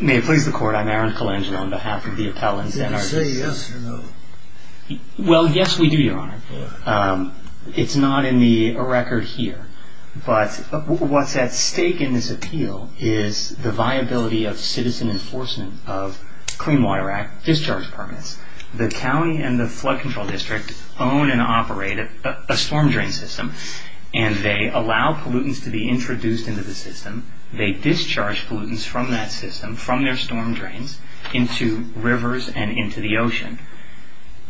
May it please the Court, I'm Aaron Colangelo on behalf of the Appellant Center. Did you say yes or no? Well, yes we do, Your Honor. It's not in the record here. But what's at stake in this appeal is the viability of citizen enforcement of Clean Water Act discharge permits. The County and the Flood Control District own and operate a storm drain system, and they allow pollutants to be introduced into the system. They discharge pollutants from that system, from their storm drains, into rivers and into the ocean.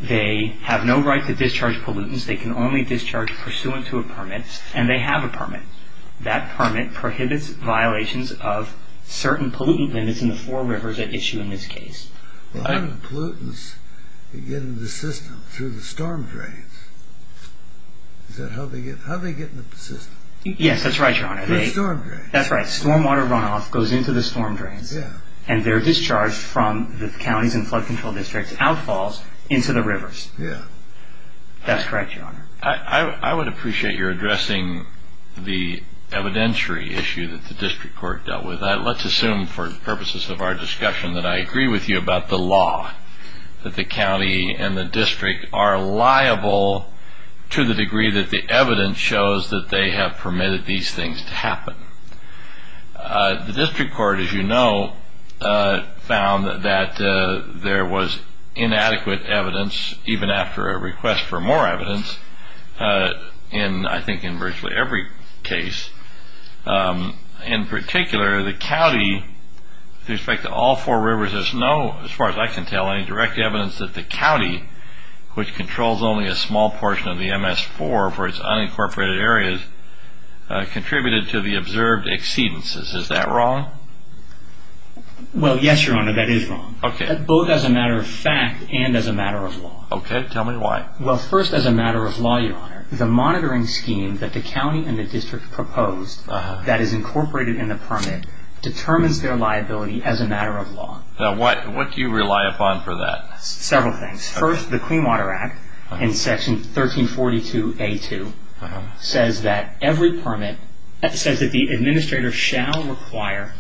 They have no right to discharge pollutants. They can only discharge pursuant to a permit, and they have a permit. That permit prohibits violations of certain pollutant limits in the four rivers at issue in this case. How do the pollutants get into the system through the storm drains? How do they get into the system? Yes, that's right, Your Honor. Through the storm drains. That's right, storm water runoff goes into the storm drains, and they're discharged from the Counties and Flood Control Districts, outfalls into the rivers. That's correct, Your Honor. I would appreciate your addressing the evidentiary issue that the District Court dealt with. Let's assume for purposes of our discussion that I agree with you about the law, that the County and the District are liable to the degree that the evidence shows that they have permitted these things to happen. The District Court, as you know, found that there was inadequate evidence, even after a request for more evidence, I think in virtually every case. In particular, the County, with respect to all four rivers, has no, as far as I can tell, any direct evidence that the County, which controls only a small portion of the MS-4 for its unincorporated areas, contributed to the observed exceedances. Is that wrong? Well, yes, Your Honor, that is wrong. Okay. Both as a matter of fact and as a matter of law. Okay, tell me why. Well, first, as a matter of law, Your Honor, the monitoring scheme that the County and the District proposed that is incorporated in the permit determines their liability as a matter of law. Now, what do you rely upon for that? Several things. First, the Clean Water Act, in Section 1342A2, says that every permit says that the administrator shall require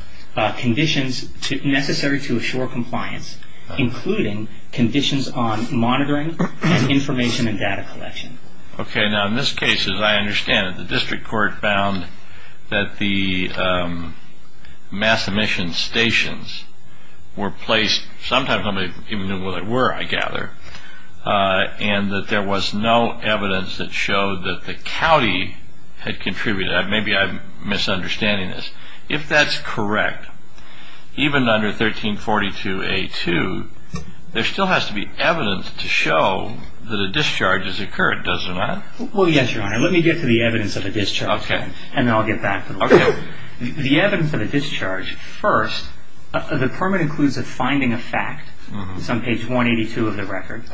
conditions necessary to assure compliance, including conditions on monitoring and information and data collection. Okay. Now, in this case, as I understand it, the District Court found that the mass emission stations were placed, sometimes nobody even knew where they were, I gather, and that there was no evidence that showed that the County had contributed. Maybe I'm misunderstanding this. If that's correct, even under 1342A2, there still has to be evidence to show that a discharge has occurred, does there not? Well, yes, Your Honor. Let me get to the evidence of a discharge. Okay. And then I'll get back to the law. Okay. The evidence of a discharge, first, the permit includes a finding of fact, on page 182 of the record,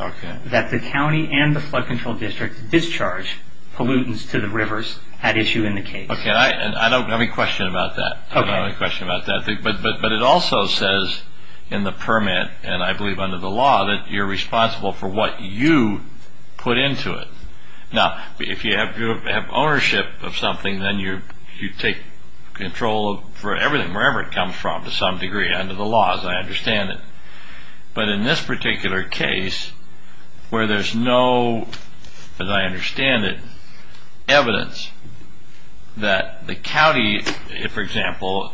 that the County and the Flood Control District discharged pollutants to the rivers at issue in the case. Okay. I don't have any question about that. Okay. I don't have any question about that. But it also says in the permit, and I believe under the law, that you're responsible for what you put into it. Now, if you have ownership of something, then you take control for everything, wherever it comes from, to some degree, under the law, as I understand it. But in this particular case, where there's no, as I understand it, evidence that the County, for example,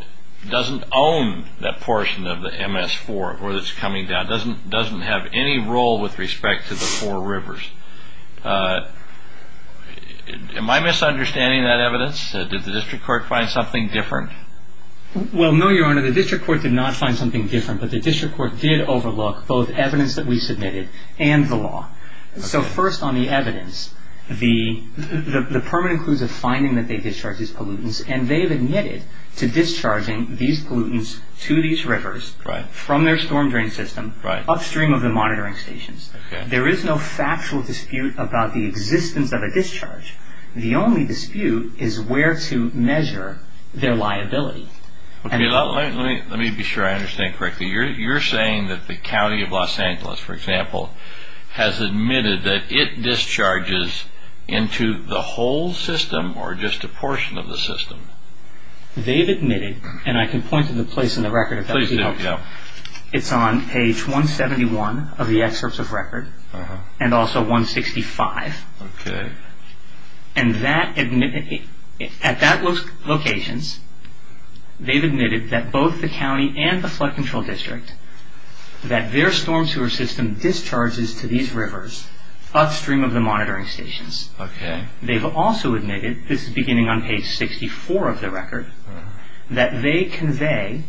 doesn't own that portion of the MS4, where it's coming down, doesn't have any role with respect to the four rivers. Am I misunderstanding that evidence? Did the district court find something different? Well, no, Your Honor. The district court did not find something different. But the district court did overlook both evidence that we submitted and the law. So, first, on the evidence, the permit includes a finding that they discharged these pollutants, and they've admitted to discharging these pollutants to these rivers from their storm drain system, upstream of the monitoring stations. Okay. There is no factual dispute about the existence of a discharge. The only dispute is where to measure their liability. Let me be sure I understand correctly. You're saying that the County of Los Angeles, for example, has admitted that it discharges into the whole system, or just a portion of the system? They've admitted, and I can point to the place in the record if that would be helpful. Please do, yeah. It's on page 171 of the excerpts of record, and also 165. Okay. And at those locations, they've admitted that both the county and the flood control district, that their storm sewer system discharges to these rivers upstream of the monitoring stations. Okay. They've also admitted, this is beginning on page 64 of the record, that they convey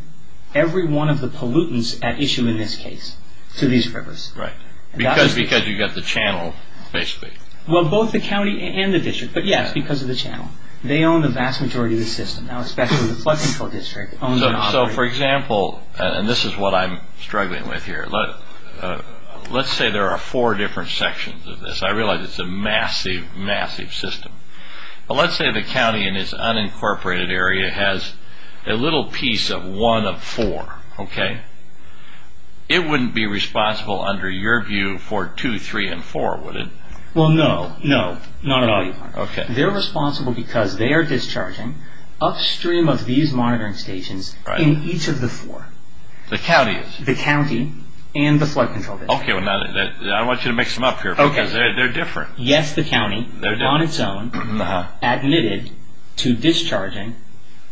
every one of the pollutants at issue in this case to these rivers. Right. Because you've got the channel, basically. Well, both the county and the district, but yes, because of the channel. They own the vast majority of the system now, especially the flood control district. For example, and this is what I'm struggling with here. Let's say there are four different sections of this. I realize it's a massive, massive system. But let's say the county in this unincorporated area has a little piece of one of four. Okay. It wouldn't be responsible, under your view, for two, three, and four, would it? Well, no. No, not at all. Okay. They're responsible because they are discharging upstream of these monitoring stations in each of the four. The county is? The county and the flood control district. Okay. I want you to mix them up here, because they're different. Okay. Yes, the county. They're different. On its own, admitted to discharging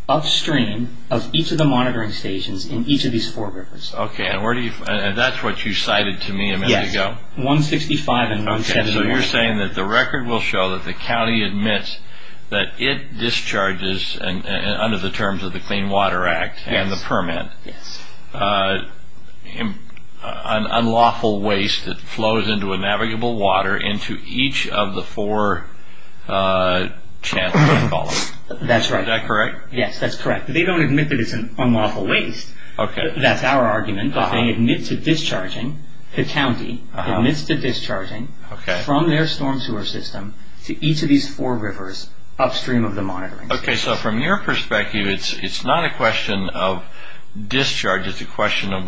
upstream of each of the monitoring stations in each of these four rivers. Okay, and that's what you cited to me a minute ago? Yes, 165 and 170. Okay, so you're saying that the record will show that the county admits that it discharges, under the terms of the Clean Water Act and the permit, an unlawful waste that flows into a navigable water into each of the four channels, I call it. That's right. Is that correct? Yes, that's correct. They don't admit that it's an unlawful waste. Okay. That's our argument, but they admit to discharging. The county admits to discharging from their storm sewer system to each of these four rivers upstream of the monitoring. Okay, so from your perspective, it's not a question of discharge. It's a question of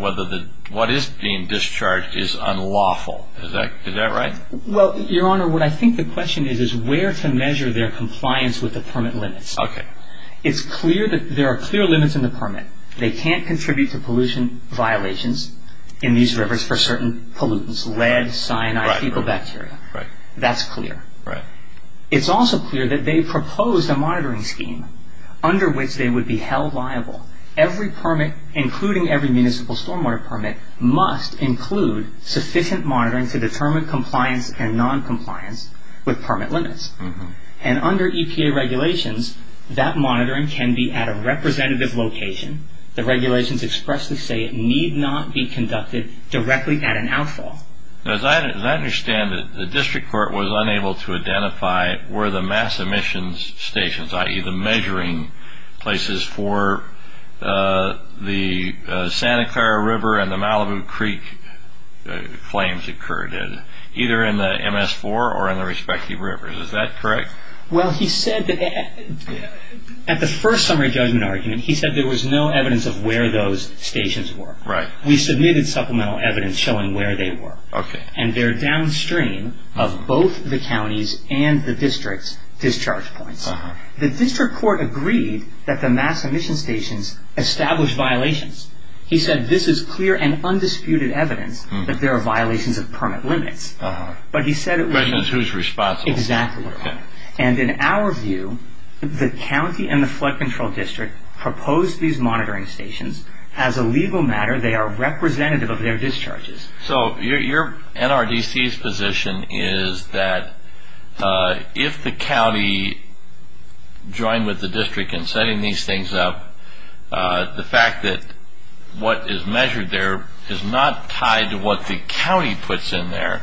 what is being discharged is unlawful. Is that right? Well, Your Honor, what I think the question is, is where to measure their compliance with the permit limits. Okay. It's clear that there are clear limits in the permit. They can't contribute to pollution violations in these rivers for certain pollutants, lead, cyanide, fecal bacteria. Right. That's clear. Right. It's also clear that they proposed a monitoring scheme under which they would be held liable. Every permit, including every municipal stormwater permit, must include sufficient monitoring to determine compliance and noncompliance with permit limits. And under EPA regulations, that monitoring can be at a representative location. The regulations expressly say it need not be conducted directly at an outfall. As I understand it, the district court was unable to identify where the mass emissions stations, i.e. the measuring places for the Santa Clara River and the Malibu Creek flames occurred in, either in the MS-4 or in the respective rivers. Is that correct? Well, he said that at the first summary judgment argument, he said there was no evidence of where those stations were. Right. We submitted supplemental evidence showing where they were. Okay. And they're downstream of both the county's and the district's discharge points. Uh-huh. The district court agreed that the mass emissions stations established violations. He said this is clear and undisputed evidence that there are violations of permit limits. Uh-huh. But he said it was... President's who's responsible. Exactly. Okay. And in our view, the county and the flood control district proposed these monitoring stations. As a legal matter, they are representative of their discharges. So your NRDC's position is that if the county joined with the district in setting these things up, the fact that what is measured there is not tied to what the county puts in there.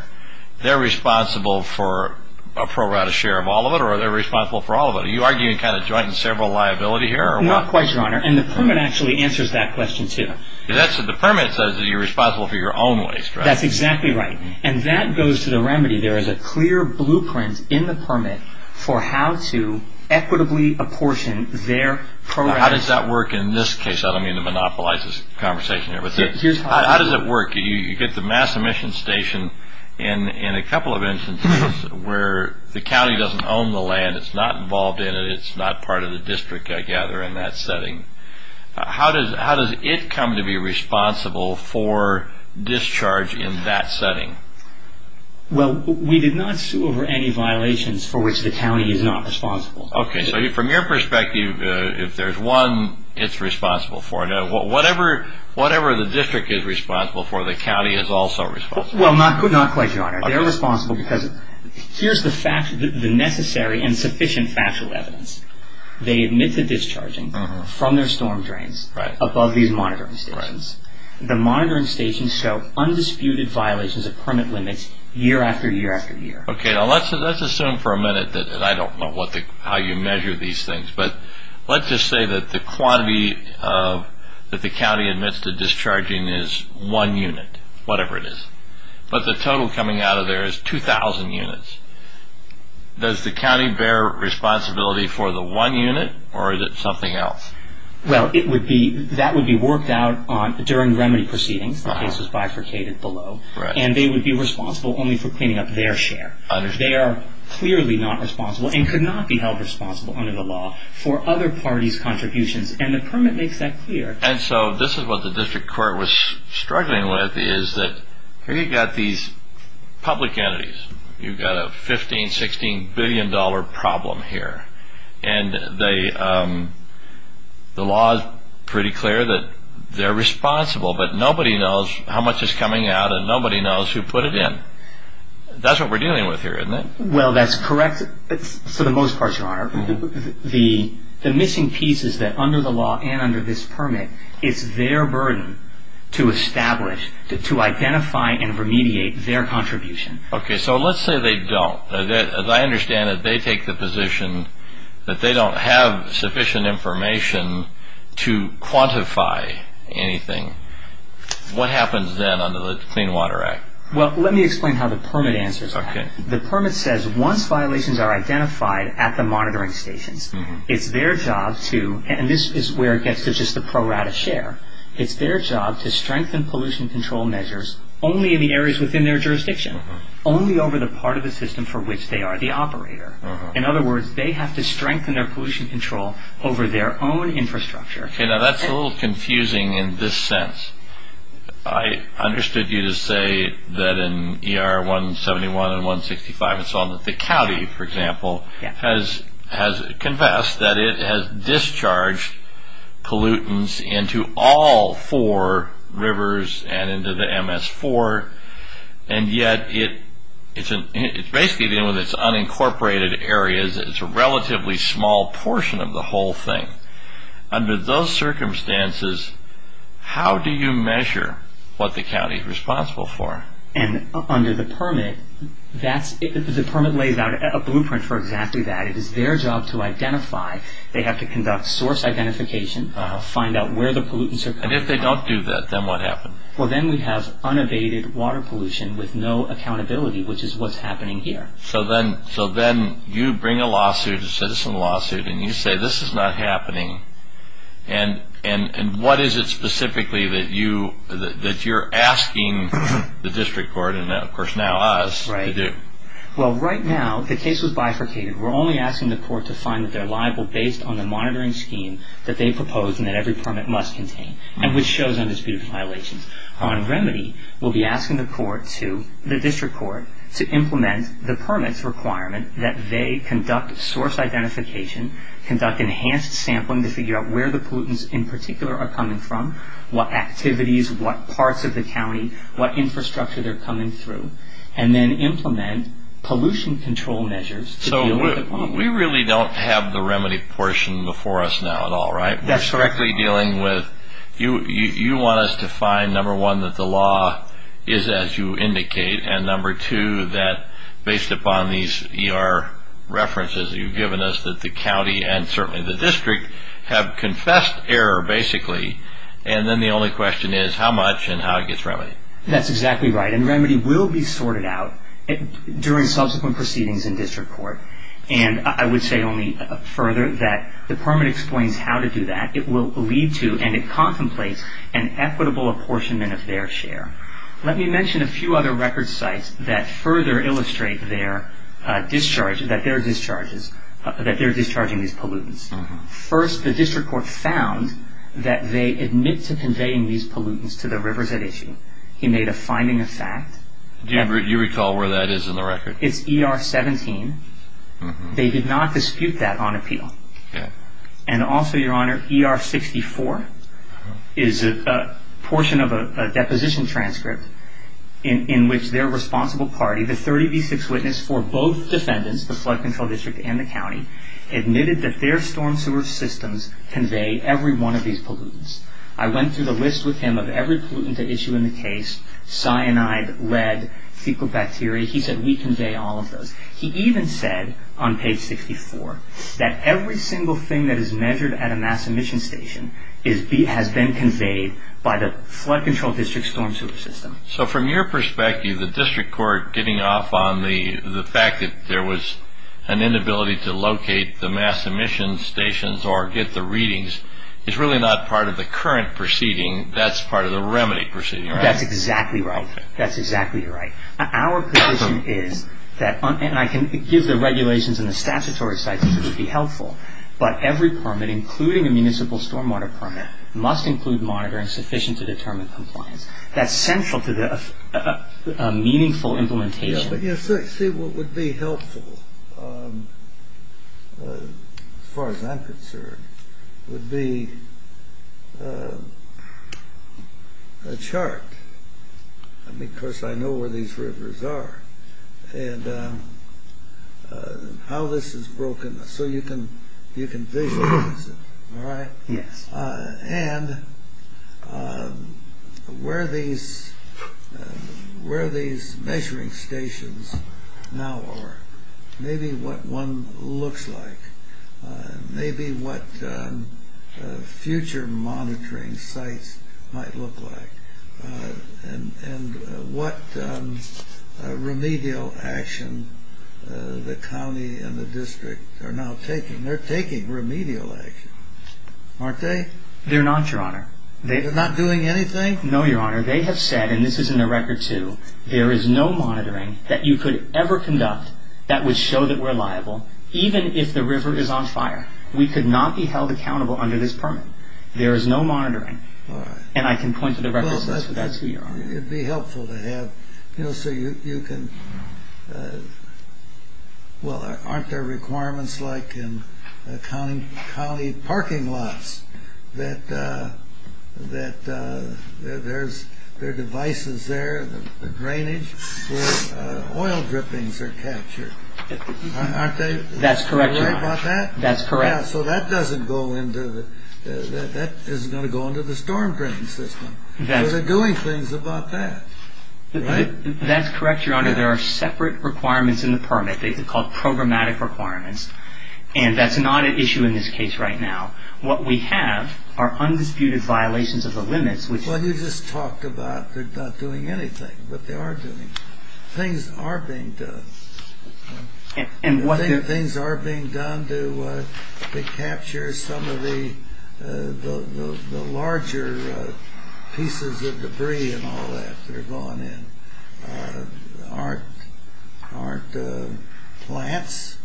They're responsible for a pro rata share of all of it, or are they responsible for all of it? Are you arguing kind of joint and several liability here? Not quite, Your Honor. And the permit actually answers that question too. The permit says that you're responsible for your own waste, right? That's exactly right. And that goes to the remedy. There is a clear blueprint in the permit for how to equitably apportion their pro rata... How does that work in this case? I don't mean to monopolize this conversation here, but how does it work? You get the mass emissions station in a couple of instances where the county doesn't own the land. It's not involved in it. It's not part of the district, I gather, in that setting. How does it come to be responsible for discharge in that setting? Well, we did not sue over any violations for which the county is not responsible. Okay. So from your perspective, if there's one it's responsible for, whatever the district is responsible for, the county is also responsible? Well, not quite, Your Honor. They're responsible because here's the necessary and sufficient factual evidence. They admit to discharging from their storm drains above these monitoring stations. The monitoring stations show undisputed violations of permit limits year after year after year. Okay. Now let's assume for a minute that I don't know how you measure these things, but let's just say that the quantity that the county admits to discharging is one unit, whatever it is. But the total coming out of there is 2,000 units. Does the county bear responsibility for the one unit, or is it something else? Well, that would be worked out during remedy proceedings. The case was bifurcated below. And they would be responsible only for cleaning up their share. They are clearly not responsible and could not be held responsible under the law for other parties' contributions, and the permit makes that clear. And so this is what the district court was struggling with, is that here you've got these public entities. You've got a $15, $16 billion problem here. And the law is pretty clear that they're responsible, but nobody knows how much is coming out and nobody knows who put it in. That's what we're dealing with here, isn't it? Well, that's correct, for the most part, Your Honor. The missing piece is that under the law and under this permit, it's their burden to establish, to identify and remediate their contribution. Okay, so let's say they don't. As I understand it, they take the position that they don't have sufficient information to quantify anything. What happens then under the Clean Water Act? Well, let me explain how the permit answers that. The permit says once violations are identified at the monitoring stations, it's their job to, and this is where it gets to just the pro rata share, it's their job to strengthen pollution control measures only in the areas within their jurisdiction, only over the part of the system for which they are the operator. In other words, they have to strengthen their pollution control over their own infrastructure. Okay, now that's a little confusing in this sense. I understood you to say that in ER 171 and 165 and so on, that the county, for example, has confessed that it has discharged pollutants into all four rivers and into the MS-4, and yet it's basically, even with its unincorporated areas, it's a relatively small portion of the whole thing. Under those circumstances, how do you measure what the county is responsible for? And under the permit, the permit lays out a blueprint for exactly that. It is their job to identify. They have to conduct source identification, find out where the pollutants are coming from. And if they don't do that, then what happens? Well, then we have unabated water pollution with no accountability, which is what's happening here. So then you bring a lawsuit, a citizen lawsuit, and you say this is not happening. And what is it specifically that you're asking the district court, and of course now us, to do? Well, right now, the case was bifurcated. We're only asking the court to find that they're liable based on the monitoring scheme that they proposed and that every permit must contain, and which shows undisputed violations. On remedy, we'll be asking the district court to implement the permit's requirement that they conduct source identification, conduct enhanced sampling to figure out where the pollutants in particular are coming from, what activities, what parts of the county, what infrastructure they're coming through, and then implement pollution control measures to deal with the problem. So we really don't have the remedy portion before us now at all, right? That's correct. You want us to find, number one, that the law is as you indicate, and number two, that based upon these ER references that you've given us, that the county and certainly the district have confessed error, basically, and then the only question is how much and how it gets remedied. That's exactly right, and remedy will be sorted out during subsequent proceedings in district court. And I would say only further that the permit explains how to do that. It will lead to and it contemplates an equitable apportionment of their share. Let me mention a few other record sites that further illustrate that they're discharging these pollutants. First, the district court found that they admit to conveying these pollutants to the rivers at issue. He made a finding of fact. Do you recall where that is in the record? It's ER 17. They did not dispute that on appeal. And also, Your Honor, ER 64 is a portion of a deposition transcript in which their responsible party, the 30B6 witness for both defendants, the flood control district and the county, admitted that their storm sewer systems convey every one of these pollutants. I went through the list with him of every pollutant at issue in the case, cyanide, lead, fecal bacteria. He said we convey all of those. He even said on page 64 that every single thing that is measured at a mass emission station has been conveyed by the flood control district storm sewer system. So from your perspective, the district court getting off on the fact that there was an inability to locate the mass emission stations or get the readings is really not part of the current proceeding. That's part of the remedy proceeding, right? That's exactly right. That's exactly right. Our position is that, and I can give the regulations and the statutory citations which would be helpful, but every permit, including a municipal stormwater permit, must include monitoring sufficient to determine compliance. That's central to a meaningful implementation. You see, what would be helpful, as far as I'm concerned, would be a chart. Of course, I know where these rivers are and how this is broken so you can visualize it, all right? Yes. And where these measuring stations now are, maybe what one looks like, maybe what future monitoring sites might look like, and what remedial action the county and the district are now taking. Remedial action, aren't they? They're not, Your Honor. They're not doing anything? No, Your Honor. They have said, and this is in the record, too, there is no monitoring that you could ever conduct that would show that we're liable, even if the river is on fire. We could not be held accountable under this permit. There is no monitoring. All right. And I can point to the record and say that's who you are. It would be helpful to have, you know, so you can, well, aren't there requirements like in county parking lots that there are devices there, the drainage where oil drippings are captured? Aren't they? That's correct, Your Honor. Aren't they aware about that? That's correct. So that doesn't go into, that isn't going to go into the storm drain system. So they're doing things about that, right? That's correct, Your Honor. There are separate requirements in the permit. They're called programmatic requirements. And that's not an issue in this case right now. What we have are undisputed violations of the limits. Well, you just talked about they're not doing anything, but they are doing things. Things are being done. Things are being done to capture some of the larger pieces of debris and all that that are going in. Aren't plants,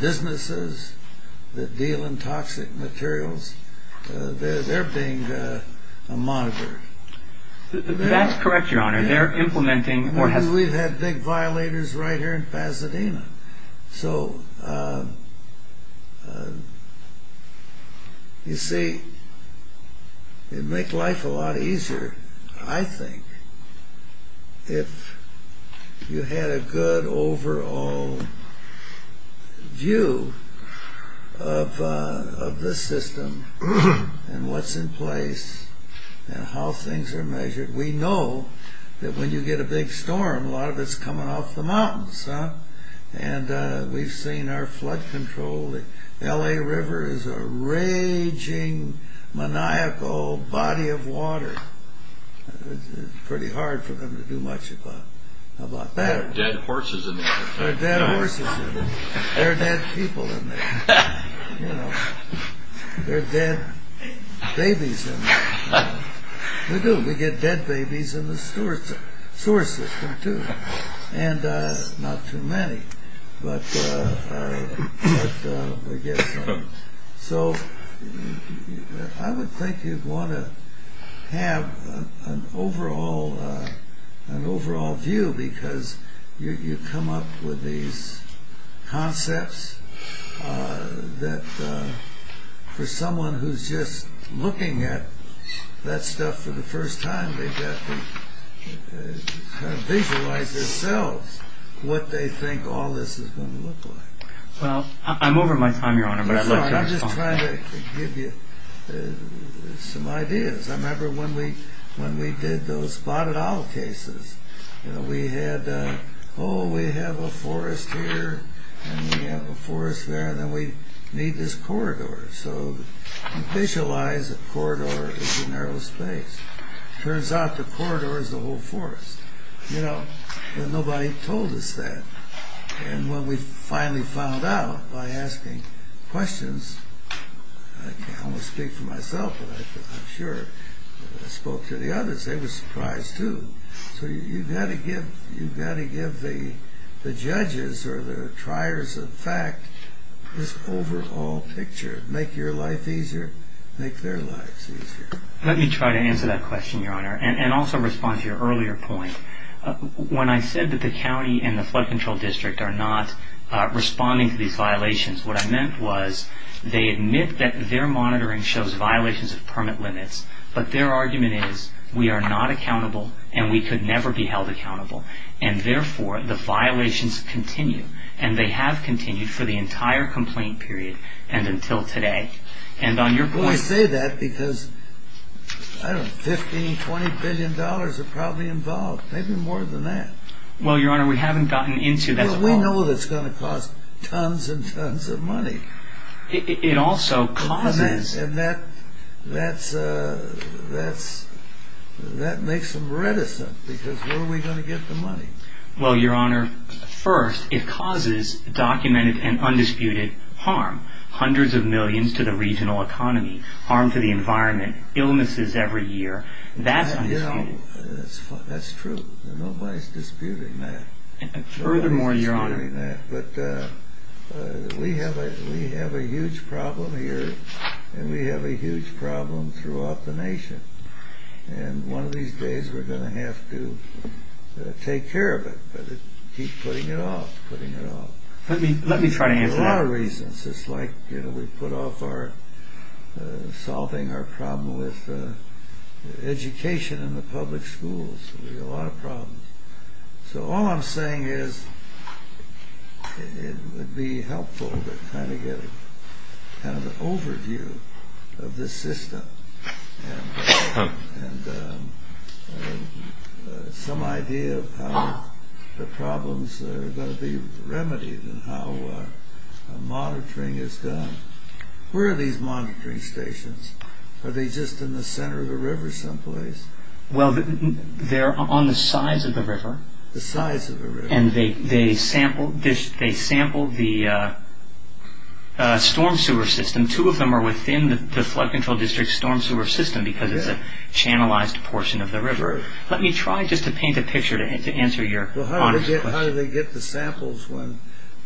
businesses that deal in toxic materials, they're being monitored. That's correct, Your Honor. They're implementing. We've had big violators right here in Pasadena. So, you see, it would make life a lot easier, I think, if you had a good overall view of the system and what's in place and how things are measured. We know that when you get a big storm, a lot of it's coming off the mountains. And we've seen our flood control. The L.A. River is a raging, maniacal body of water. It's pretty hard for them to do much about that. There are dead horses in there. There are dead horses in there. There are dead babies in there. We do. We get dead babies in the sewer system, too. And not too many, but we get some. So I would think you'd want to have an overall view because you come up with these concepts that for someone who's just looking at that stuff for the first time, they've got to kind of visualize themselves what they think all this is going to look like. Well, I'm over my time, Your Honor, but I'd love to respond. I'm sorry, I'm just trying to give you some ideas. I remember when we did those spotted owl cases. We had, oh, we have a forest here, and we have a forest there, and then we need this corridor. So you visualize a corridor as a narrow space. Turns out the corridor is the whole forest. Nobody told us that. And when we finally found out by asking questions, I can't almost speak for myself, but I'm sure I spoke to the others. They were surprised, too. So you've got to give the judges or the triers of fact this overall picture. Make your life easier. Make their lives easier. Let me try to answer that question, Your Honor, and also respond to your earlier point. When I said that the county and the flood control district are not responding to these violations, what I meant was they admit that their monitoring shows violations of permit limits, but their argument is we are not accountable, and we could never be held accountable, and therefore the violations continue, and they have continued for the entire complaint period and until today. Well, I say that because, I don't know, $15, $20 billion are probably involved, maybe more than that. Well, Your Honor, we haven't gotten into that at all. Well, we know that's going to cost tons and tons of money. It also causes. And that makes them reticent because where are we going to get the money? Well, Your Honor, first, it causes documented and undisputed harm, hundreds of millions to the regional economy, harm to the environment, illnesses every year. That's undisputed. That's true. Nobody's disputing that. Furthermore, Your Honor. Nobody's disputing that, but we have a huge problem here, and we have a huge problem throughout the nation, and one of these days we're going to have to take care of it, but keep putting it off, putting it off. Let me try to answer that. For a lot of reasons. It's like we put off solving our problem with education in the public schools. We have a lot of problems. So all I'm saying is it would be helpful to kind of get an overview of this system and some idea of how the problems are going to be remedied and how monitoring is done. Where are these monitoring stations? Are they just in the center of the river someplace? Well, they're on the sides of the river. The sides of the river. And they sample the storm sewer system. Two of them are within the flood control district storm sewer system because it's a channelized portion of the river. Let me try just to paint a picture to answer Your Honor's question. Well, how do they get the samples when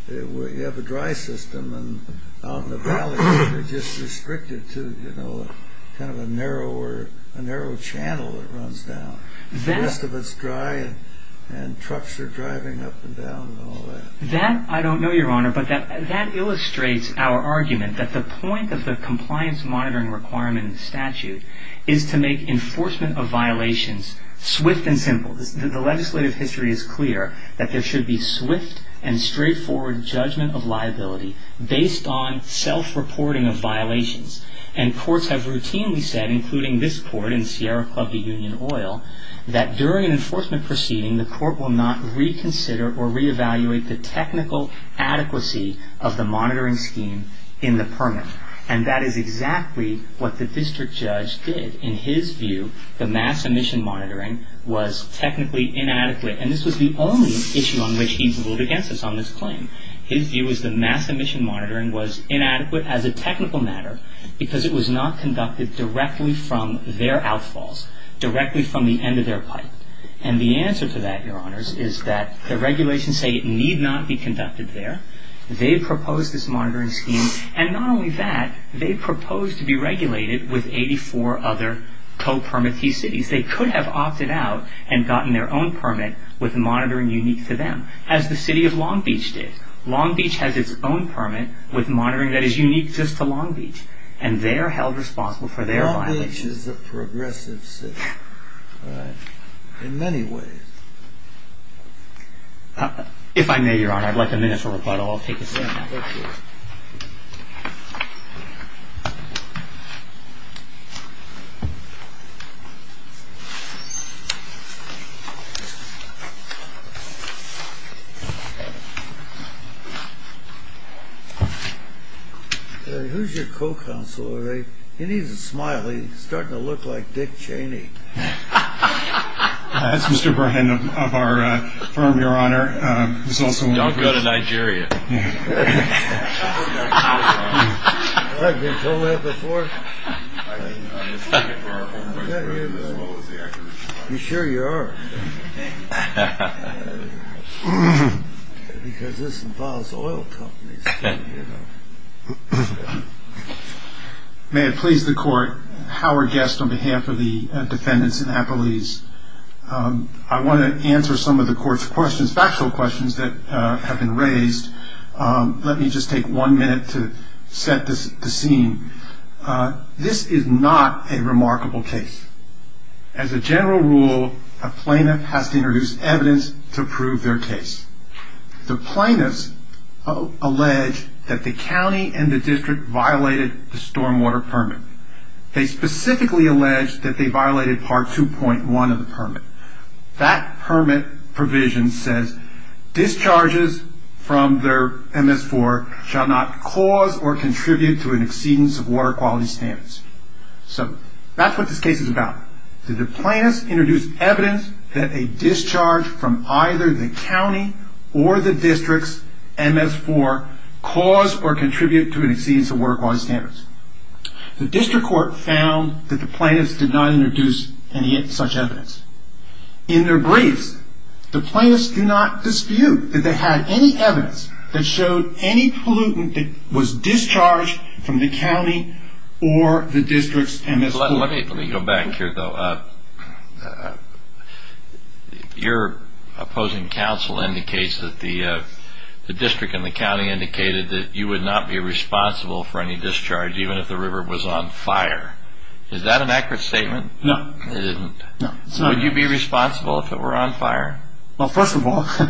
you have a dry system and out in the valley you're just restricted to kind of a narrow channel that runs down. The rest of it's dry and trucks are driving up and down and all that. I don't know, Your Honor, but that illustrates our argument that the point of the compliance monitoring requirement statute is to make enforcement of violations swift and simple. The legislative history is clear that there should be swift and straightforward judgment of liability based on self-reporting of violations. And courts have routinely said, including this court in Sierra Club v. Union Oil, that during an enforcement proceeding the court will not reconsider or reevaluate the technical adequacy of the monitoring scheme in the permit. And that is exactly what the district judge did. In his view, the mass emission monitoring was technically inadequate. And this was the only issue on which he ruled against us on this claim. His view was the mass emission monitoring was inadequate as a technical matter because it was not conducted directly from their outfalls, directly from the end of their pipe. And the answer to that, Your Honors, is that the regulations say it need not be conducted there. They proposed this monitoring scheme. And not only that, they proposed to be regulated with 84 other co-permit fee cities. They could have opted out and gotten their own permit with monitoring unique to them, as the city of Long Beach did. Long Beach has its own permit with monitoring that is unique just to Long Beach. And they are held responsible for their violations. Long Beach is a progressive city in many ways. If I may, Your Honor, I'd like a minute to reply to all. Take a seat. Thank you. Who's your co-counsel today? He needs a smile. He's starting to look like Dick Cheney. That's Mr. Burhan of our firm, Your Honor. Don't go to Nigeria. You sure you are? Because this involves oil companies. May it please the court, Howard Guest on behalf of the defendants in Appalese. I want to answer some of the court's questions, factual questions that have been raised. Let me just take one minute to set the scene. This is not a remarkable case. As a general rule, a plaintiff has to introduce evidence to prove their case. The plaintiffs allege that the county and the district violated the stormwater permit. They specifically allege that they violated Part 2.1 of the permit. That permit provision says discharges from their MS-4 shall not cause or contribute to an exceedance of water quality standards. So that's what this case is about. Did the plaintiffs introduce evidence that a discharge from either the county or the district's MS-4 caused or contributed to an exceedance of water quality standards? The district court found that the plaintiffs did not introduce any such evidence. In their briefs, the plaintiffs do not dispute that they had any evidence that showed any pollutant that was discharged from the county or the district's MS-4. Let me go back here, though. Your opposing counsel indicates that the district and the county indicated that you would not be responsible for any discharge even if the river was on fire. Is that an accurate statement? No. It isn't? No. Would you be responsible if it were on fire? Well, first of all, within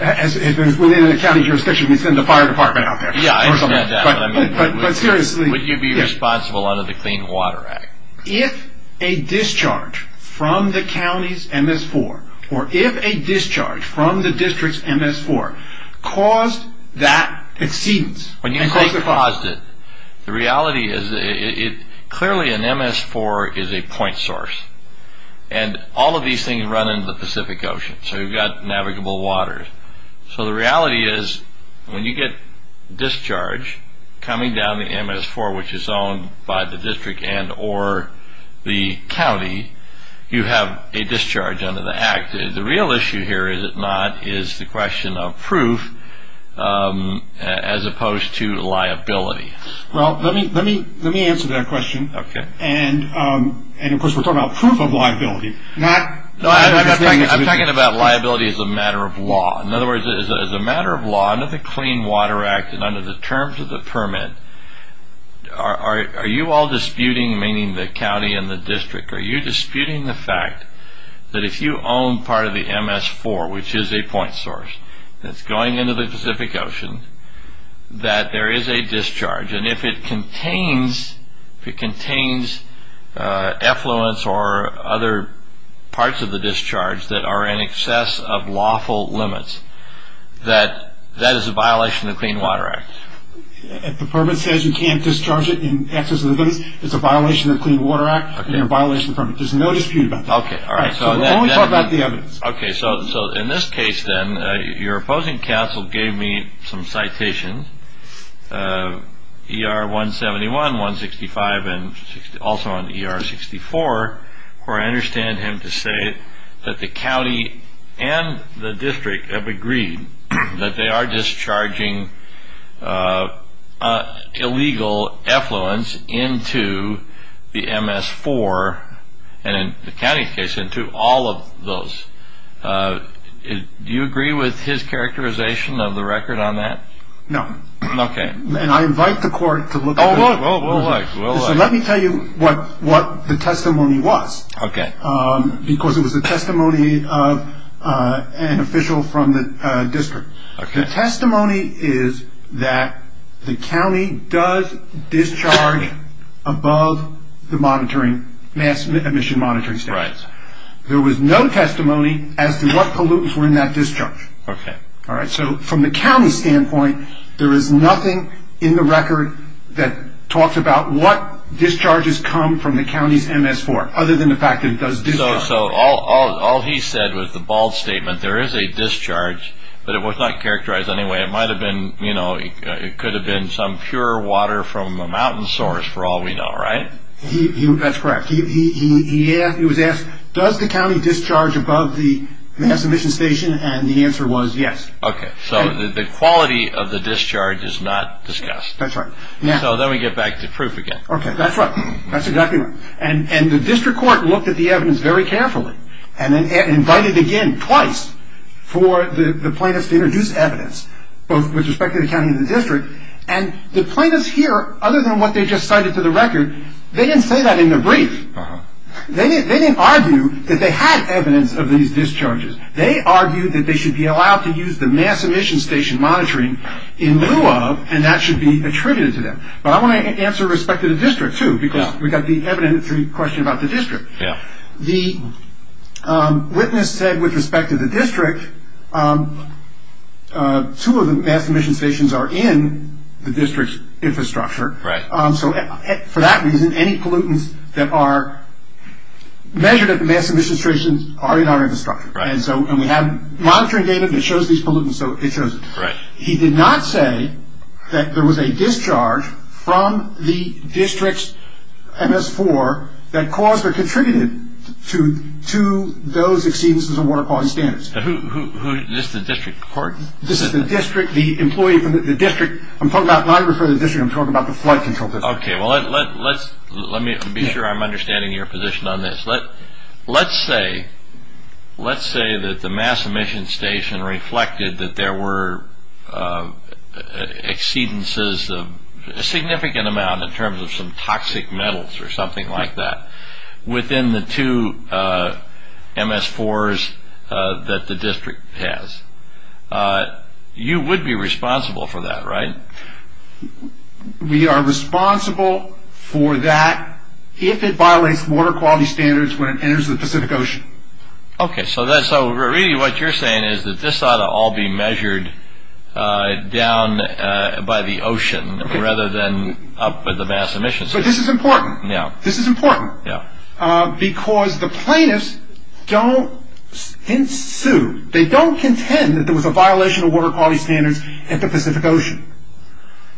the county jurisdiction, it's in the fire department out there. Yeah, I understand that. Would you be responsible under the Clean Water Act? If a discharge from the county's MS-4 or if a discharge from the district's MS-4 caused that exceedance and caused the fire. When you say caused it, the reality is clearly an MS-4 is a point source, and all of these things run into the Pacific Ocean, so you've got navigable waters. So the reality is when you get discharge coming down the MS-4, which is owned by the district and or the county, you have a discharge under the act. The real issue here, is it not, is the question of proof as opposed to liability. Well, let me answer that question. Okay. And, of course, we're talking about proof of liability. I'm talking about liability as a matter of law. In other words, as a matter of law, under the Clean Water Act and under the terms of the permit, are you all disputing, meaning the county and the district, are you disputing the fact that if you own part of the MS-4, which is a point source, that's going into the Pacific Ocean, that there is a discharge, and if it contains effluence or other parts of the discharge that are in excess of lawful limits, that that is a violation of the Clean Water Act? If the permit says you can't discharge it in excess of the limits, it's a violation of the Clean Water Act and a violation of the permit. There's no dispute about that. Okay, all right. So let me talk about the evidence. Okay, so in this case, then, your opposing counsel gave me some citations, ER-171, 165, and also on ER-64, where I understand him to say that the county and the district have agreed that they are discharging illegal effluence into the MS-4 and, in the county's case, into all of those. Do you agree with his characterization of the record on that? No. Okay. And I invite the court to look at this. We'll look. So let me tell you what the testimony was, because it was a testimony of an official from the district. Okay. The testimony is that the county does discharge above the monitoring, mass emission monitoring standards. Right. There was no testimony as to what pollutants were in that discharge. Okay. All right, so from the county's standpoint, there is nothing in the record that talks about what discharges come from the county's MS-4, other than the fact that it does discharge. So all he said was the bold statement, there is a discharge, but it was not characterized in any way. It could have been some pure water from a mountain source, for all we know, right? That's correct. He was asked, does the county discharge above the mass emission station? And the answer was yes. Okay, so the quality of the discharge is not discussed. That's right. So then we get back to proof again. Okay, that's right. That's exactly right. And the district court looked at the evidence very carefully and invited again twice for the plaintiffs to introduce evidence, both with respect to the county and the district. And the plaintiffs here, other than what they just cited to the record, they didn't say that in the brief. They didn't argue that they had evidence of these discharges. They argued that they should be allowed to use the mass emission station monitoring in lieu of, and that should be attributed to them. But I want to answer with respect to the district, too, because we've got the evidence-free question about the district. The witness said with respect to the district, two of the mass emission stations are in the district's infrastructure. Right. So for that reason, any pollutants that are measured at the mass emission stations are in our infrastructure. And we have monitoring data that shows these pollutants, so it shows it. Right. He did not say that there was a discharge from the district's MS-4 that caused or contributed to those exceedances of water quality standards. This is the district court? This is the district, the employee from the district. I'm talking about not referring to the district. I'm talking about the flood control district. Okay. Well, let me be sure I'm understanding your position on this. Let's say that the mass emission station reflected that there were exceedances, a significant amount in terms of some toxic metals or something like that, within the two MS-4s that the district has. You would be responsible for that, right? We are responsible for that if it violates water quality standards when it enters the Pacific Ocean. Okay, so really what you're saying is that this ought to all be measured down by the ocean rather than up at the mass emission station. But this is important. Yeah. This is important. Yeah. Because the plaintiffs don't ensue. They don't contend that there was a violation of water quality standards at the Pacific Ocean.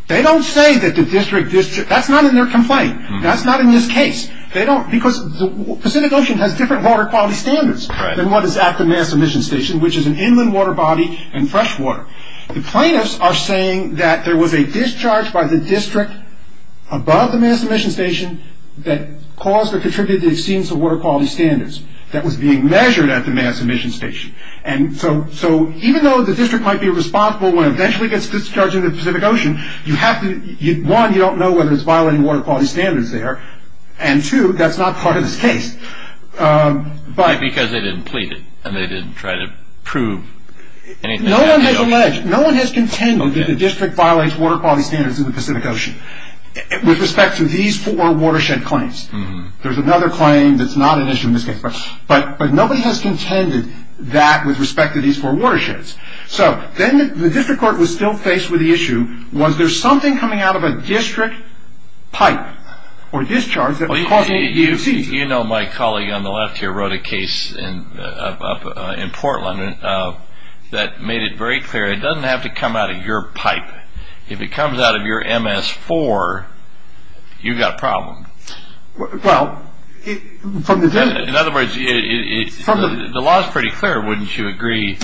They don't say that the district, that's not in their complaint. That's not in this case. Because the Pacific Ocean has different water quality standards than what is at the mass emission station, which is an inland water body and fresh water. The plaintiffs are saying that there was a discharge by the district above the mass emission station that caused or contributed to the exceedance of water quality standards that was being measured at the mass emission station. And so even though the district might be responsible when it eventually gets discharged into the Pacific Ocean, one, you don't know whether it's violating water quality standards there, and two, that's not part of this case. Because they didn't plead it and they didn't try to prove anything. No one has alleged, no one has contended that the district violates water quality standards in the Pacific Ocean with respect to these four watershed claims. There's another claim that's not an issue in this case. But nobody has contended that with respect to these four watersheds. So then the district court was still faced with the issue, was there something coming out of a district pipe or discharge that was causing it to exceed? You know, my colleague on the left here wrote a case in Portland that made it very clear. It doesn't have to come out of your pipe. If it comes out of your MS4, you've got a problem. Well, from the... In other words, the law is pretty clear, wouldn't you agree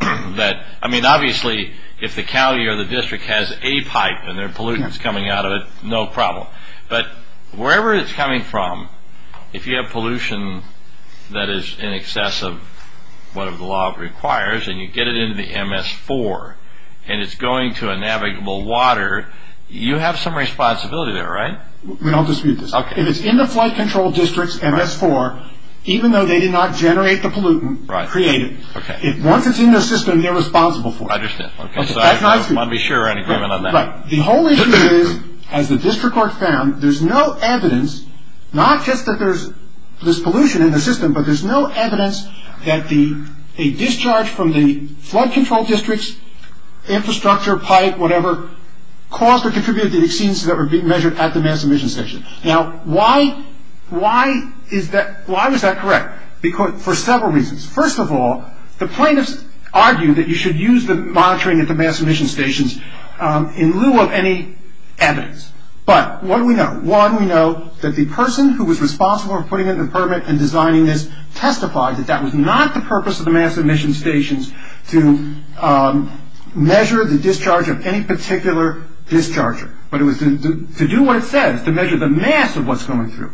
that... I mean, obviously, if the county or the district has a pipe and there are pollutants coming out of it, no problem. But wherever it's coming from, if you have pollution that is in excess of whatever the law requires and you get it into the MS4 and it's going to a navigable water, you have some responsibility there, right? We don't dispute this. If it's in the flight control district's MS4, even though they did not generate the pollutant, create it. Once it's in the system, they're responsible for it. I understand. That's not true. I'd be sure we're in agreement on that. Right. The whole issue is, as the district court found, there's no evidence, not just that there's pollution in the system, but there's no evidence that a discharge from the flight control district's infrastructure, pipe, whatever, caused or contributed to the exceedances that were being measured at the mass emission station. Now, why was that correct? For several reasons. First of all, the plaintiffs argued that you should use the monitoring at the mass emission stations in lieu of any evidence. But what do we know? One, we know that the person who was responsible for putting in the permit and designing this testified that that was not the purpose of the mass emission stations to measure the discharge of any particular discharger, but it was to do what it says, to measure the mass of what's going through.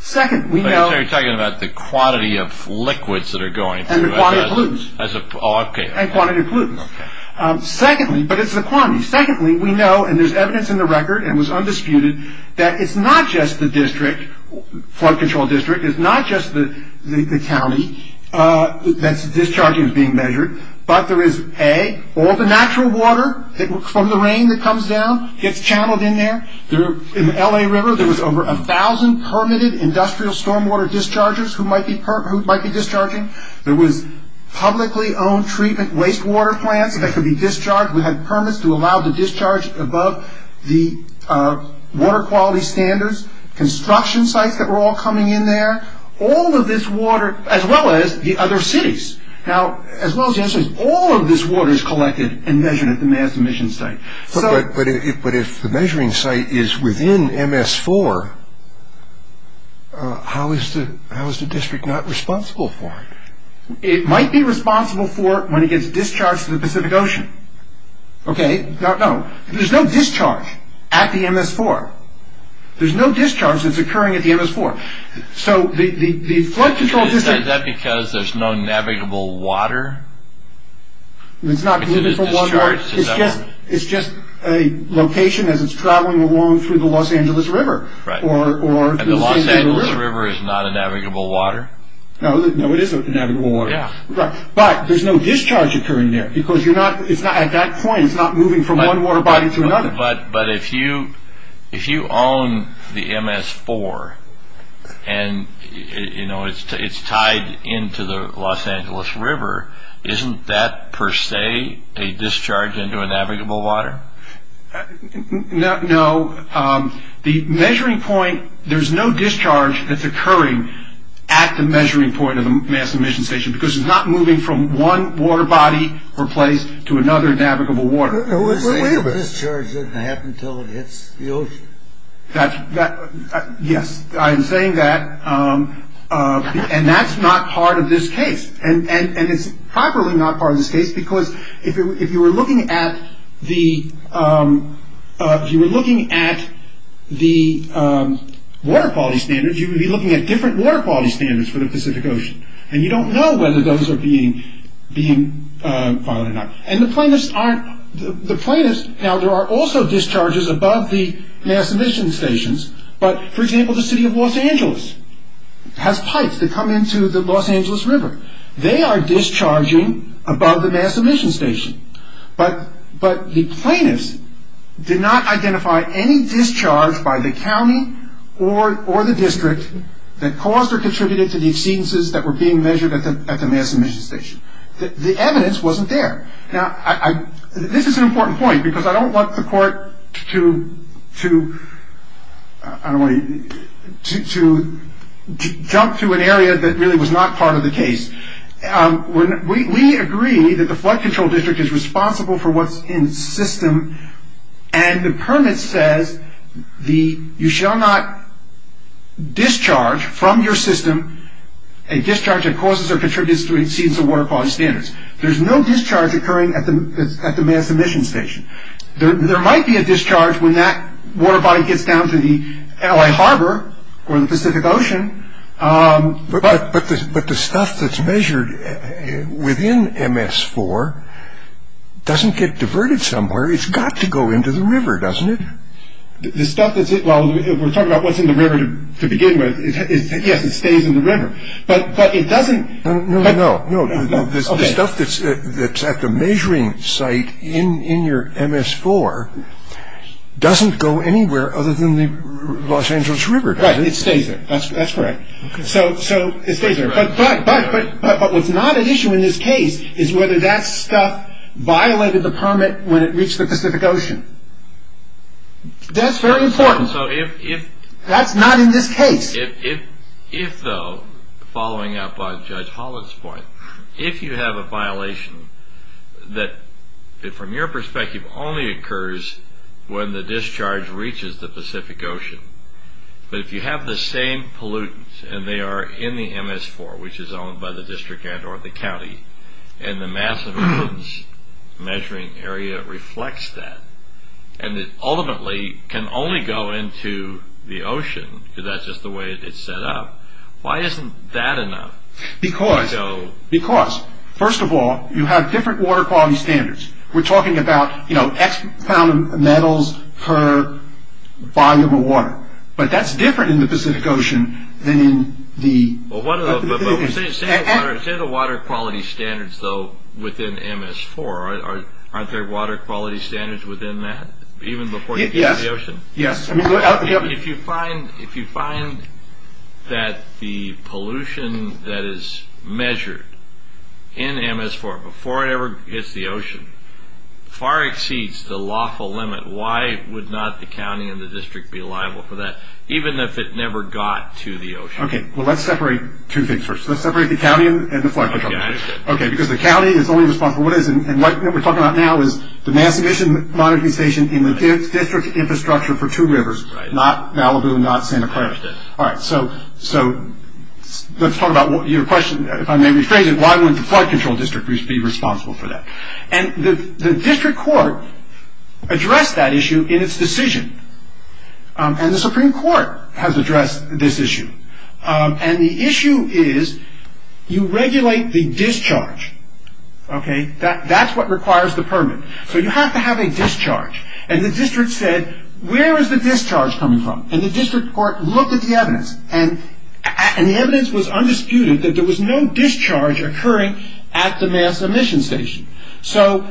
Second, we know- But you're talking about the quantity of liquids that are going through. And the quantity of pollutants. Oh, okay. And quantity of pollutants. Okay. Secondly, but it's the quantity. Secondly, we know, and there's evidence in the record and was undisputed, that it's not just the district, flight control district, it's not just the county that's discharging is being measured, but there is, A, all the natural water from the rain that comes down gets channeled in there. In the LA River, there was over 1,000 permitted industrial stormwater dischargers who might be discharging. There was publicly owned treatment waste water plants that could be discharged. We had permits to allow the discharge above the water quality standards. Construction sites that were all coming in there. All of this water, as well as the other cities. Now, as well as this, all of this water is collected and measured at the mass emission site. But if the measuring site is within MS4, how is the district not responsible for it? It might be responsible for it when it gets discharged to the Pacific Ocean. Okay. No, no. There's no discharge at the MS4. There's no discharge that's occurring at the MS4. So the flight control district... Is that because there's no navigable water? It's not because there's no water. It's just a location as it's traveling along through the Los Angeles River. Right. And the Los Angeles River is not a navigable water? No, it is a navigable water. Right. But there's no discharge occurring there because at that point it's not moving from one water body to another. But if you own the MS4 and it's tied into the Los Angeles River, isn't that, per se, a discharge into a navigable water? No. The measuring point, there's no discharge that's occurring at the measuring point of the mass emission station because it's not moving from one water body or place to another navigable water. Wait a minute. You're saying the discharge doesn't happen until it hits the ocean? Yes. I am saying that. And that's not part of this case. And it's probably not part of this case because if you were looking at the... If you were looking at the water quality standards, you would be looking at different water quality standards for the Pacific Ocean. And you don't know whether those are being followed or not. And the plaintiffs aren't... The plaintiffs... Now, there are also discharges above the mass emission stations. But, for example, the city of Los Angeles has pipes that come into the Los Angeles River. They are discharging above the mass emission station. But the plaintiffs did not identify any discharge by the county or the district that caused or contributed to the exceedances that were being measured at the mass emission station. The evidence wasn't there. Now, this is an important point because I don't want the court to, I don't want to... to jump to an area that really was not part of the case. We agree that the Flood Control District is responsible for what's in the system. And the permit says you shall not discharge from your system a discharge that causes or contributes to exceedance of water quality standards. There's no discharge occurring at the mass emission station. There might be a discharge when that water body gets down to the L.A. Harbor or the Pacific Ocean. But the stuff that's measured within MS-4 doesn't get diverted somewhere. It's got to go into the river, doesn't it? The stuff that's... well, we're talking about what's in the river to begin with. Yes, it stays in the river. But it doesn't... No, no, no. The stuff that's at the measuring site in your MS-4 doesn't go anywhere other than the Los Angeles River, does it? It stays there. That's correct. So it stays there. But what's not at issue in this case is whether that stuff violated the permit when it reached the Pacific Ocean. That's very important. That's not in this case. If, though, following up on Judge Hollett's point, if you have a violation that from your perspective only occurs when the discharge reaches the Pacific Ocean, but if you have the same pollutants and they are in the MS-4, which is owned by the district and or the county, and the mass of pollutants measuring area reflects that, and it ultimately can only go into the ocean, because that's just the way it's set up, why isn't that enough? Because, first of all, you have different water quality standards. We're talking about X pound of metals per volume of water, but that's different in the Pacific Ocean than in the... Say the water quality standards, though, within MS-4, aren't there water quality standards within that, even before it gets to the ocean? Yes. If you find that the pollution that is measured in MS-4 before it ever gets to the ocean far exceeds the lawful limit, why would not the county and the district be liable for that, even if it never got to the ocean? Okay, well, let's separate two things first. Let's separate the county and the flood control district. Okay, because the county is only responsible for what it is, and what we're talking about now is the mass emission monitoring station in the district infrastructure for two rivers, not Malibu, not Santa Clara. I understand. All right, so let's talk about your question, if I may rephrase it, why wouldn't the flood control district be responsible for that? And the district court addressed that issue in its decision, and the Supreme Court has addressed this issue. And the issue is you regulate the discharge, okay? That's what requires the permit. So you have to have a discharge, and the district said, where is the discharge coming from? And the district court looked at the evidence, and the evidence was undisputed that there was no discharge occurring at the mass emission station. So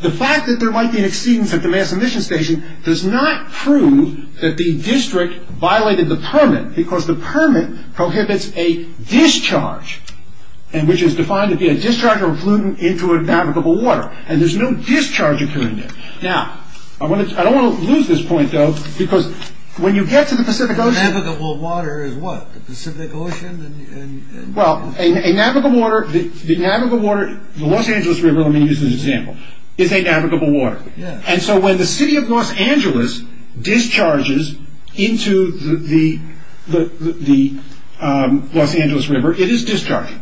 the fact that there might be an exceedance at the mass emission station does not prove that the district violated the permit, because the permit prohibits a discharge, which is defined to be a discharge of a pollutant into a navigable water, and there's no discharge occurring there. Now, I don't want to lose this point, though, because when you get to the Pacific Ocean... A navigable water is what, the Pacific Ocean? Well, a navigable water, the Los Angeles River, let me use this example, is a navigable water. And so when the city of Los Angeles discharges into the Los Angeles River, it is discharging.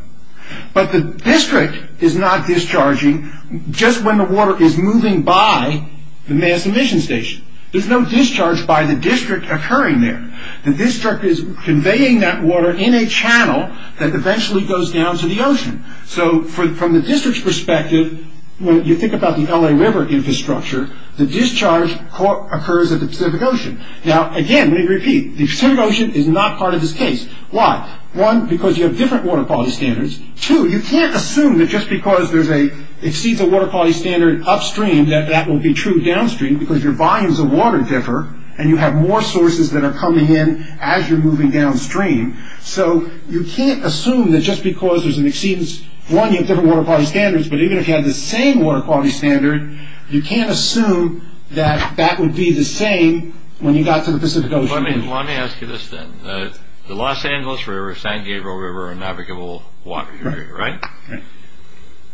But the district is not discharging just when the water is moving by the mass emission station. There's no discharge by the district occurring there. The district is conveying that water in a channel that eventually goes down to the ocean. So from the district's perspective, when you think about the LA River infrastructure, the discharge occurs at the Pacific Ocean. Now, again, let me repeat, the Pacific Ocean is not part of this case. Why? One, because you have different water quality standards. Two, you can't assume that just because it exceeds a water quality standard upstream that that will be true downstream because your volumes of water differ and you have more sources that are coming in as you're moving downstream. So you can't assume that just because there's an exceedance, one, you have different water quality standards, but even if you had the same water quality standard, you can't assume that that would be the same when you got to the Pacific Ocean. Let me ask you this, then. The Los Angeles River, San Gabriel River are navigable water areas, right? Right.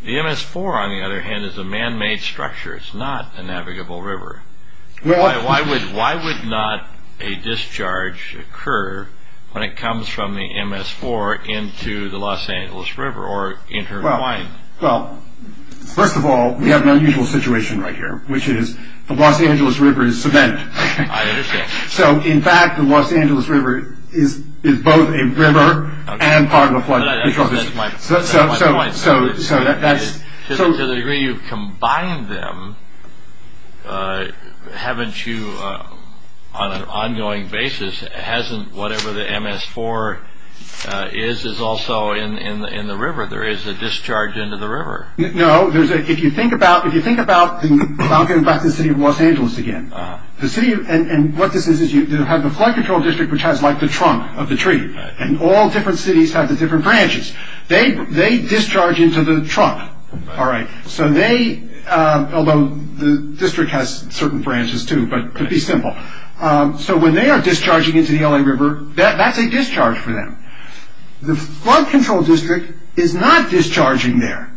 The MS4, on the other hand, is a man-made structure. It's not a navigable river. Why would not a discharge occur when it comes from the MS4 into the Los Angeles River or intertwined? Well, first of all, we have an unusual situation right here, which is the Los Angeles River is cement. I understand. So, in fact, the Los Angeles River is both a river and part of a floodplain. I think that's my point. To the degree you've combined them, haven't you, on an ongoing basis, hasn't whatever the MS4 is also in the river? There is a discharge into the river. No, if you think about the city of Los Angeles again, and what this is is you have the flood control district, which has like the trunk of the tree, and all different cities have the different branches. They discharge into the trunk. All right. So they, although the district has certain branches too, but to be simple. So when they are discharging into the LA River, that's a discharge for them. The flood control district is not discharging there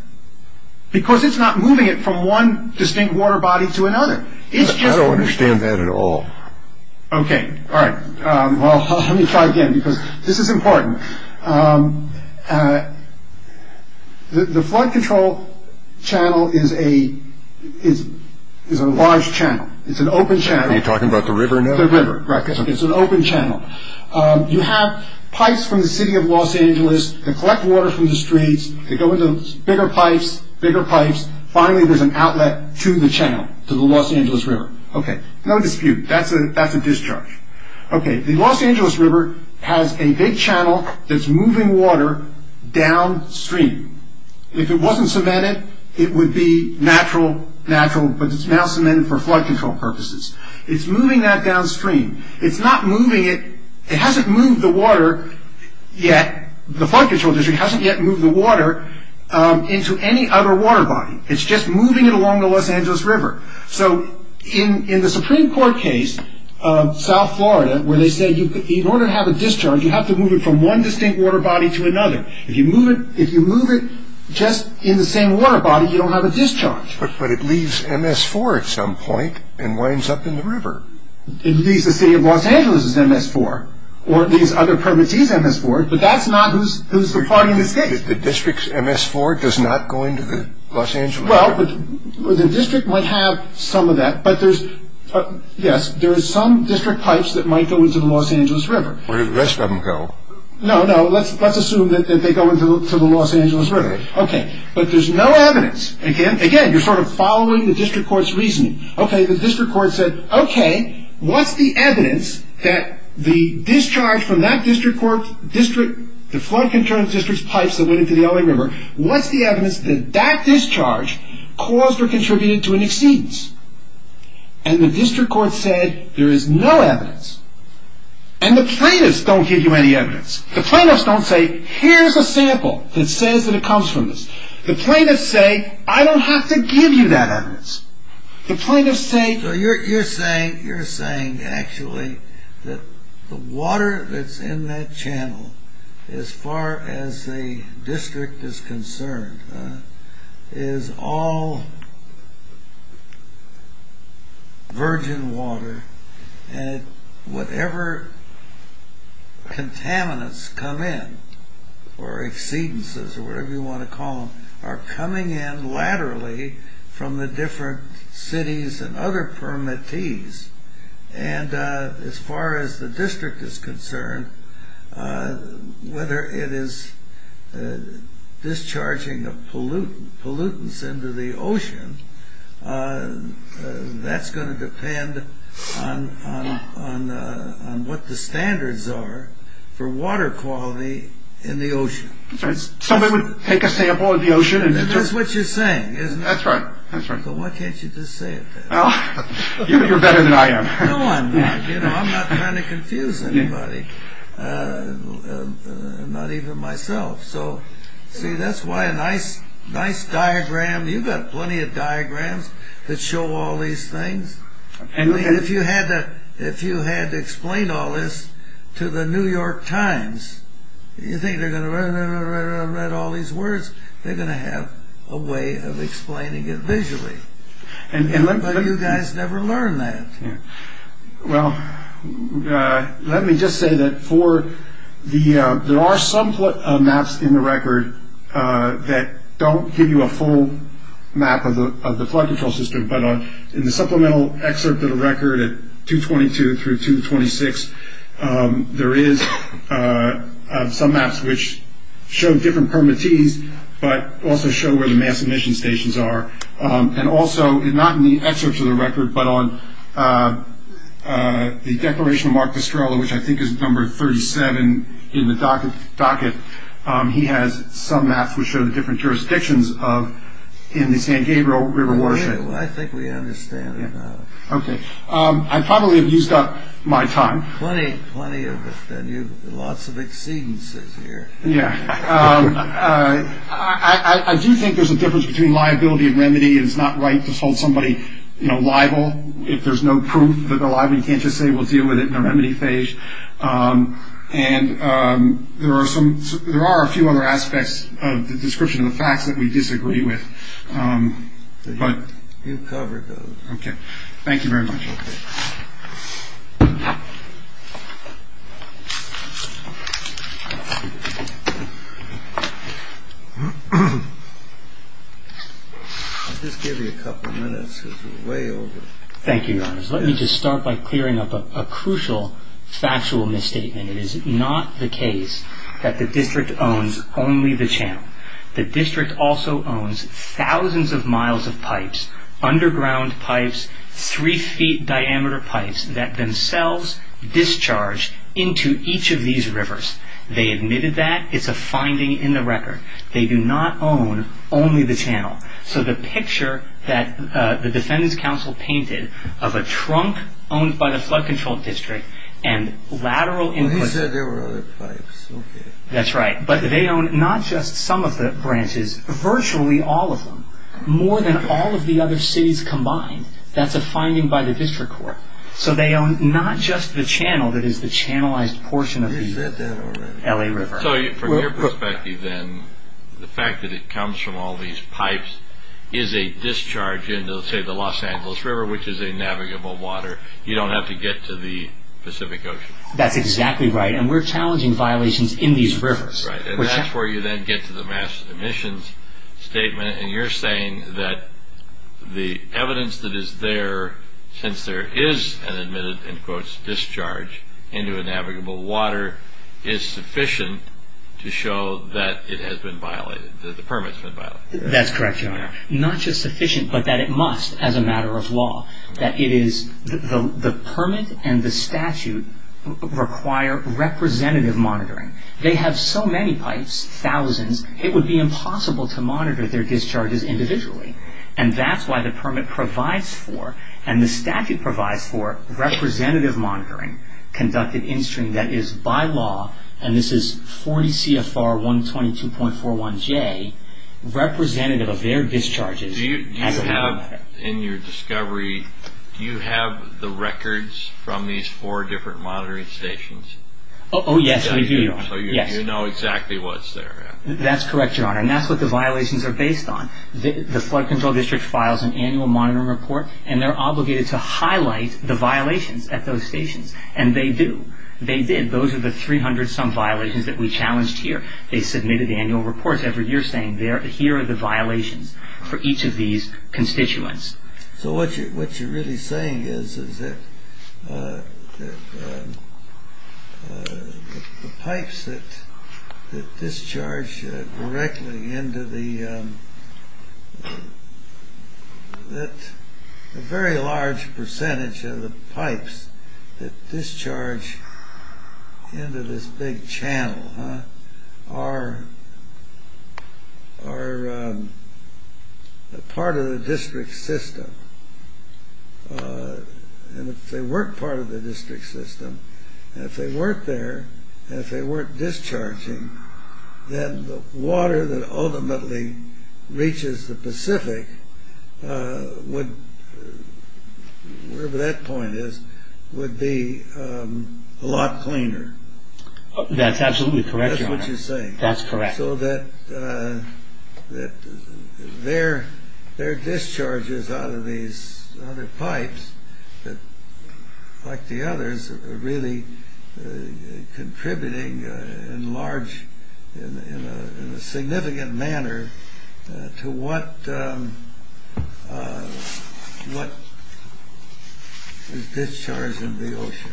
because it's not moving it from one distinct water body to another. I don't understand that at all. Okay. All right. Well, let me try again because this is important. The flood control channel is a large channel. It's an open channel. Are you talking about the river? The river, right. It's an open channel. You have pipes from the city of Los Angeles that collect water from the streets. They go into bigger pipes, bigger pipes. Finally, there's an outlet to the channel, to the Los Angeles River. Okay. No dispute. That's a discharge. Okay. The Los Angeles River has a big channel that's moving water downstream. If it wasn't cemented, it would be natural, natural, but it's now cemented for flood control purposes. It's moving that downstream. It's not moving it. It hasn't moved the water yet. The flood control district hasn't yet moved the water into any other water body. It's just moving it along the Los Angeles River. So in the Supreme Court case of South Florida where they say in order to have a discharge, you have to move it from one distinct water body to another. If you move it just in the same water body, you don't have a discharge. But it leaves MS-4 at some point and winds up in the river. It leaves the city of Los Angeles's MS-4 or at least other permits' MS-4, but that's not who's the party in this case. The district's MS-4 does not go into the Los Angeles River? Well, the district might have some of that, but there's, yes, there is some district pipes that might go into the Los Angeles River. Where did the rest of them go? No, no, let's assume that they go into the Los Angeles River. Okay, but there's no evidence. Again, you're sort of following the district court's reasoning. Okay, the district court said, okay, what's the evidence that the discharge from that district court district, the flood control district's pipes that went into the LA River, what's the evidence that that discharge caused or contributed to an exceedance? And the district court said, there is no evidence. And the plaintiffs don't give you any evidence. The plaintiffs don't say, here's a sample that says that it comes from this. The plaintiffs say, I don't have to give you that evidence. The plaintiffs say. You're saying, you're saying actually that the water that's in that channel, as far as the district is concerned, is all virgin water. And whatever contaminants come in, or exceedances, or whatever you want to call them, are coming in laterally from the different cities and other permittees. And as far as the district is concerned, whether it is discharging of pollutants into the ocean, that's going to depend on what the standards are for water quality in the ocean. Somebody would take a sample of the ocean. That's what you're saying, isn't it? That's right. So why can't you just say it then? You're better than I am. No, I'm not. I'm not trying to confuse anybody. Not even myself. See, that's why a nice diagram. You've got plenty of diagrams that show all these things. If you had to explain all this to the New York Times, you think they're going to read all these words. They're going to have a way of explaining it visually. But you guys never learn that. Well, let me just say that there are some maps in the record that don't give you a full map of the flood control system, but in the supplemental excerpt of the record at 222 through 226, there is some maps which show different permittees, but also show where the mass emission stations are. And also, not in the excerpt of the record, but on the declaration of Mark Pestrello, which I think is number 37 in the docket, he has some maps which show the different jurisdictions in the San Gabriel River watershed. I think we understand it now. Okay. I probably have used up my time. Plenty of it, then. Lots of exceedances here. Yeah. I do think there's a difference between liability and remedy. It's not right to hold somebody liable if there's no proof that they're liable. You can't just say we'll deal with it in a remedy phase. And there are a few other aspects of the description of the facts that we disagree with. You covered those. Okay. Thank you very much. Okay. I'll just give you a couple of minutes because we're way over. Thank you, Your Honor. Let me just start by clearing up a crucial factual misstatement. It is not the case that the district owns only the channel. The district also owns thousands of miles of pipes, underground pipes, three-feet diameter pipes that themselves discharge into each of these rivers. They admitted that. It's a finding in the record. They do not own only the channel. So the picture that the Defendant's Counsel painted of a trunk owned by the Flood Control District and lateral inputs... Well, he said there were other pipes. Okay. That's right. But they own not just some of the branches, virtually all of them, more than all of the other cities combined. That's a finding by the district court. So they own not just the channel that is the channelized portion of the... LA River. So from your perspective, then, the fact that it comes from all these pipes is a discharge into, say, the Los Angeles River, which is a navigable water. You don't have to get to the Pacific Ocean. That's exactly right, and we're challenging violations in these rivers. Right, and that's where you then get to the mass emissions statement, and you're saying that the evidence that is there, since there is an admitted, in quotes, discharge into a navigable water, is sufficient to show that it has been violated, that the permit has been violated. That's correct, Your Honor. Not just sufficient, but that it must, as a matter of law. The permit and the statute require representative monitoring. They have so many pipes, thousands, it would be impossible to monitor their discharges individually. And that's why the permit provides for, and the statute provides for, representative monitoring conducted in string that is, by law, and this is 40 CFR 122.41J, representative of their discharges. Do you have, in your discovery, do you have the records from these four different monitoring stations? Oh, yes, we do, Your Honor. So you know exactly what's there. That's correct, Your Honor, and that's what the violations are based on. The Flood Control District files an annual monitoring report, and they're obligated to highlight the violations at those stations, and they do. They did. Those are the 300-some violations that we challenged here. They submitted annual reports every year saying, here are the violations for each of these constituents. So what you're really saying is that the pipes that discharge directly into the, that a very large percentage of the pipes that discharge into this big channel are part of the district system, and if they weren't part of the district system, and if they weren't there, and if they weren't discharging, then the water that ultimately reaches the Pacific would, whatever that point is, would be a lot cleaner. That's absolutely correct, Your Honor. That's what you're saying. That's correct. So that their discharges out of these other pipes, like the others, are really contributing in a significant manner to what is discharged into the ocean.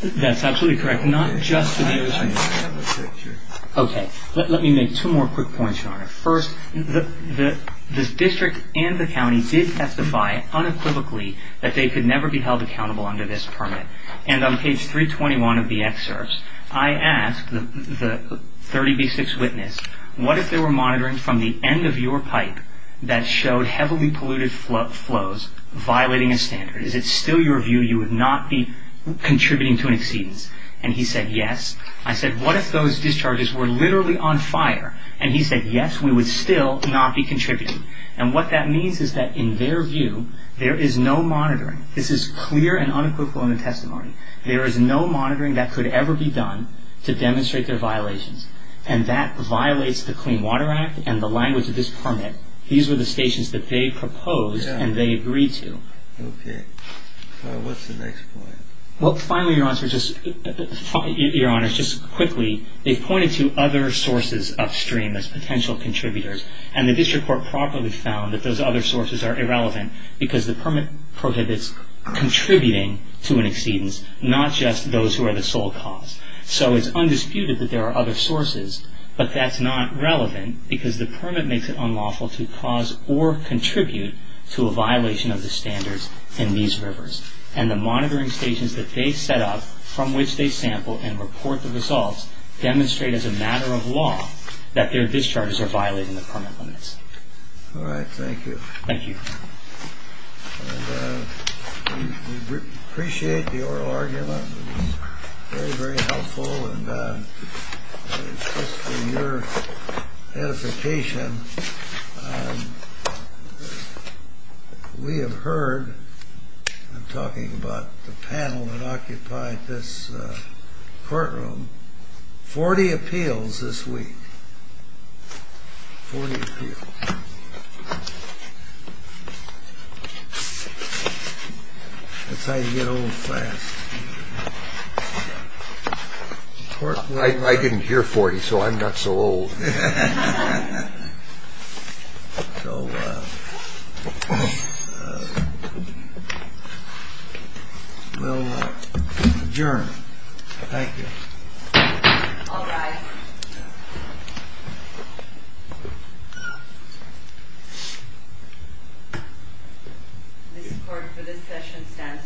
That's absolutely correct. Not just to the ocean. I have a picture. Okay. Let me make two more quick points, Your Honor. First, the district and the county did testify unequivocally that they could never be held accountable under this permit. And on page 321 of the excerpts, I asked the 30B6 witness, what if they were monitoring from the end of your pipe that showed heavily polluted flows violating a standard? Is it still your view you would not be contributing to an exceedance? And he said, yes. I said, what if those discharges were literally on fire? And he said, yes, we would still not be contributing. And what that means is that, in their view, there is no monitoring. This is clear and unequivocal in the testimony. There is no monitoring that could ever be done to demonstrate their violations, and that violates the Clean Water Act and the language of this permit. These were the stations that they proposed and they agreed to. Okay. What's the next point? Well, finally, Your Honor, just quickly, they pointed to other sources upstream as potential contributors, and the district court properly found that those other sources are irrelevant because the permit prohibits contributing to an exceedance, not just those who are the sole cause. So it's undisputed that there are other sources, but that's not relevant because the permit makes it unlawful to cause or contribute to a violation of the standards in these rivers. And the monitoring stations that they set up from which they sample and report the results demonstrate, as a matter of law, that their discharges are violating the permit limits. All right. Thank you. Thank you. And we appreciate your argument. It was very, very helpful. And just for your edification, we have heard, I'm talking about the panel that occupied this courtroom, 40 appeals this week. Forty appeals. That's how you get old fast. I didn't hear 40, so I'm not so old. So we'll adjourn. Thank you. All rise. The court for this session stands adjourned.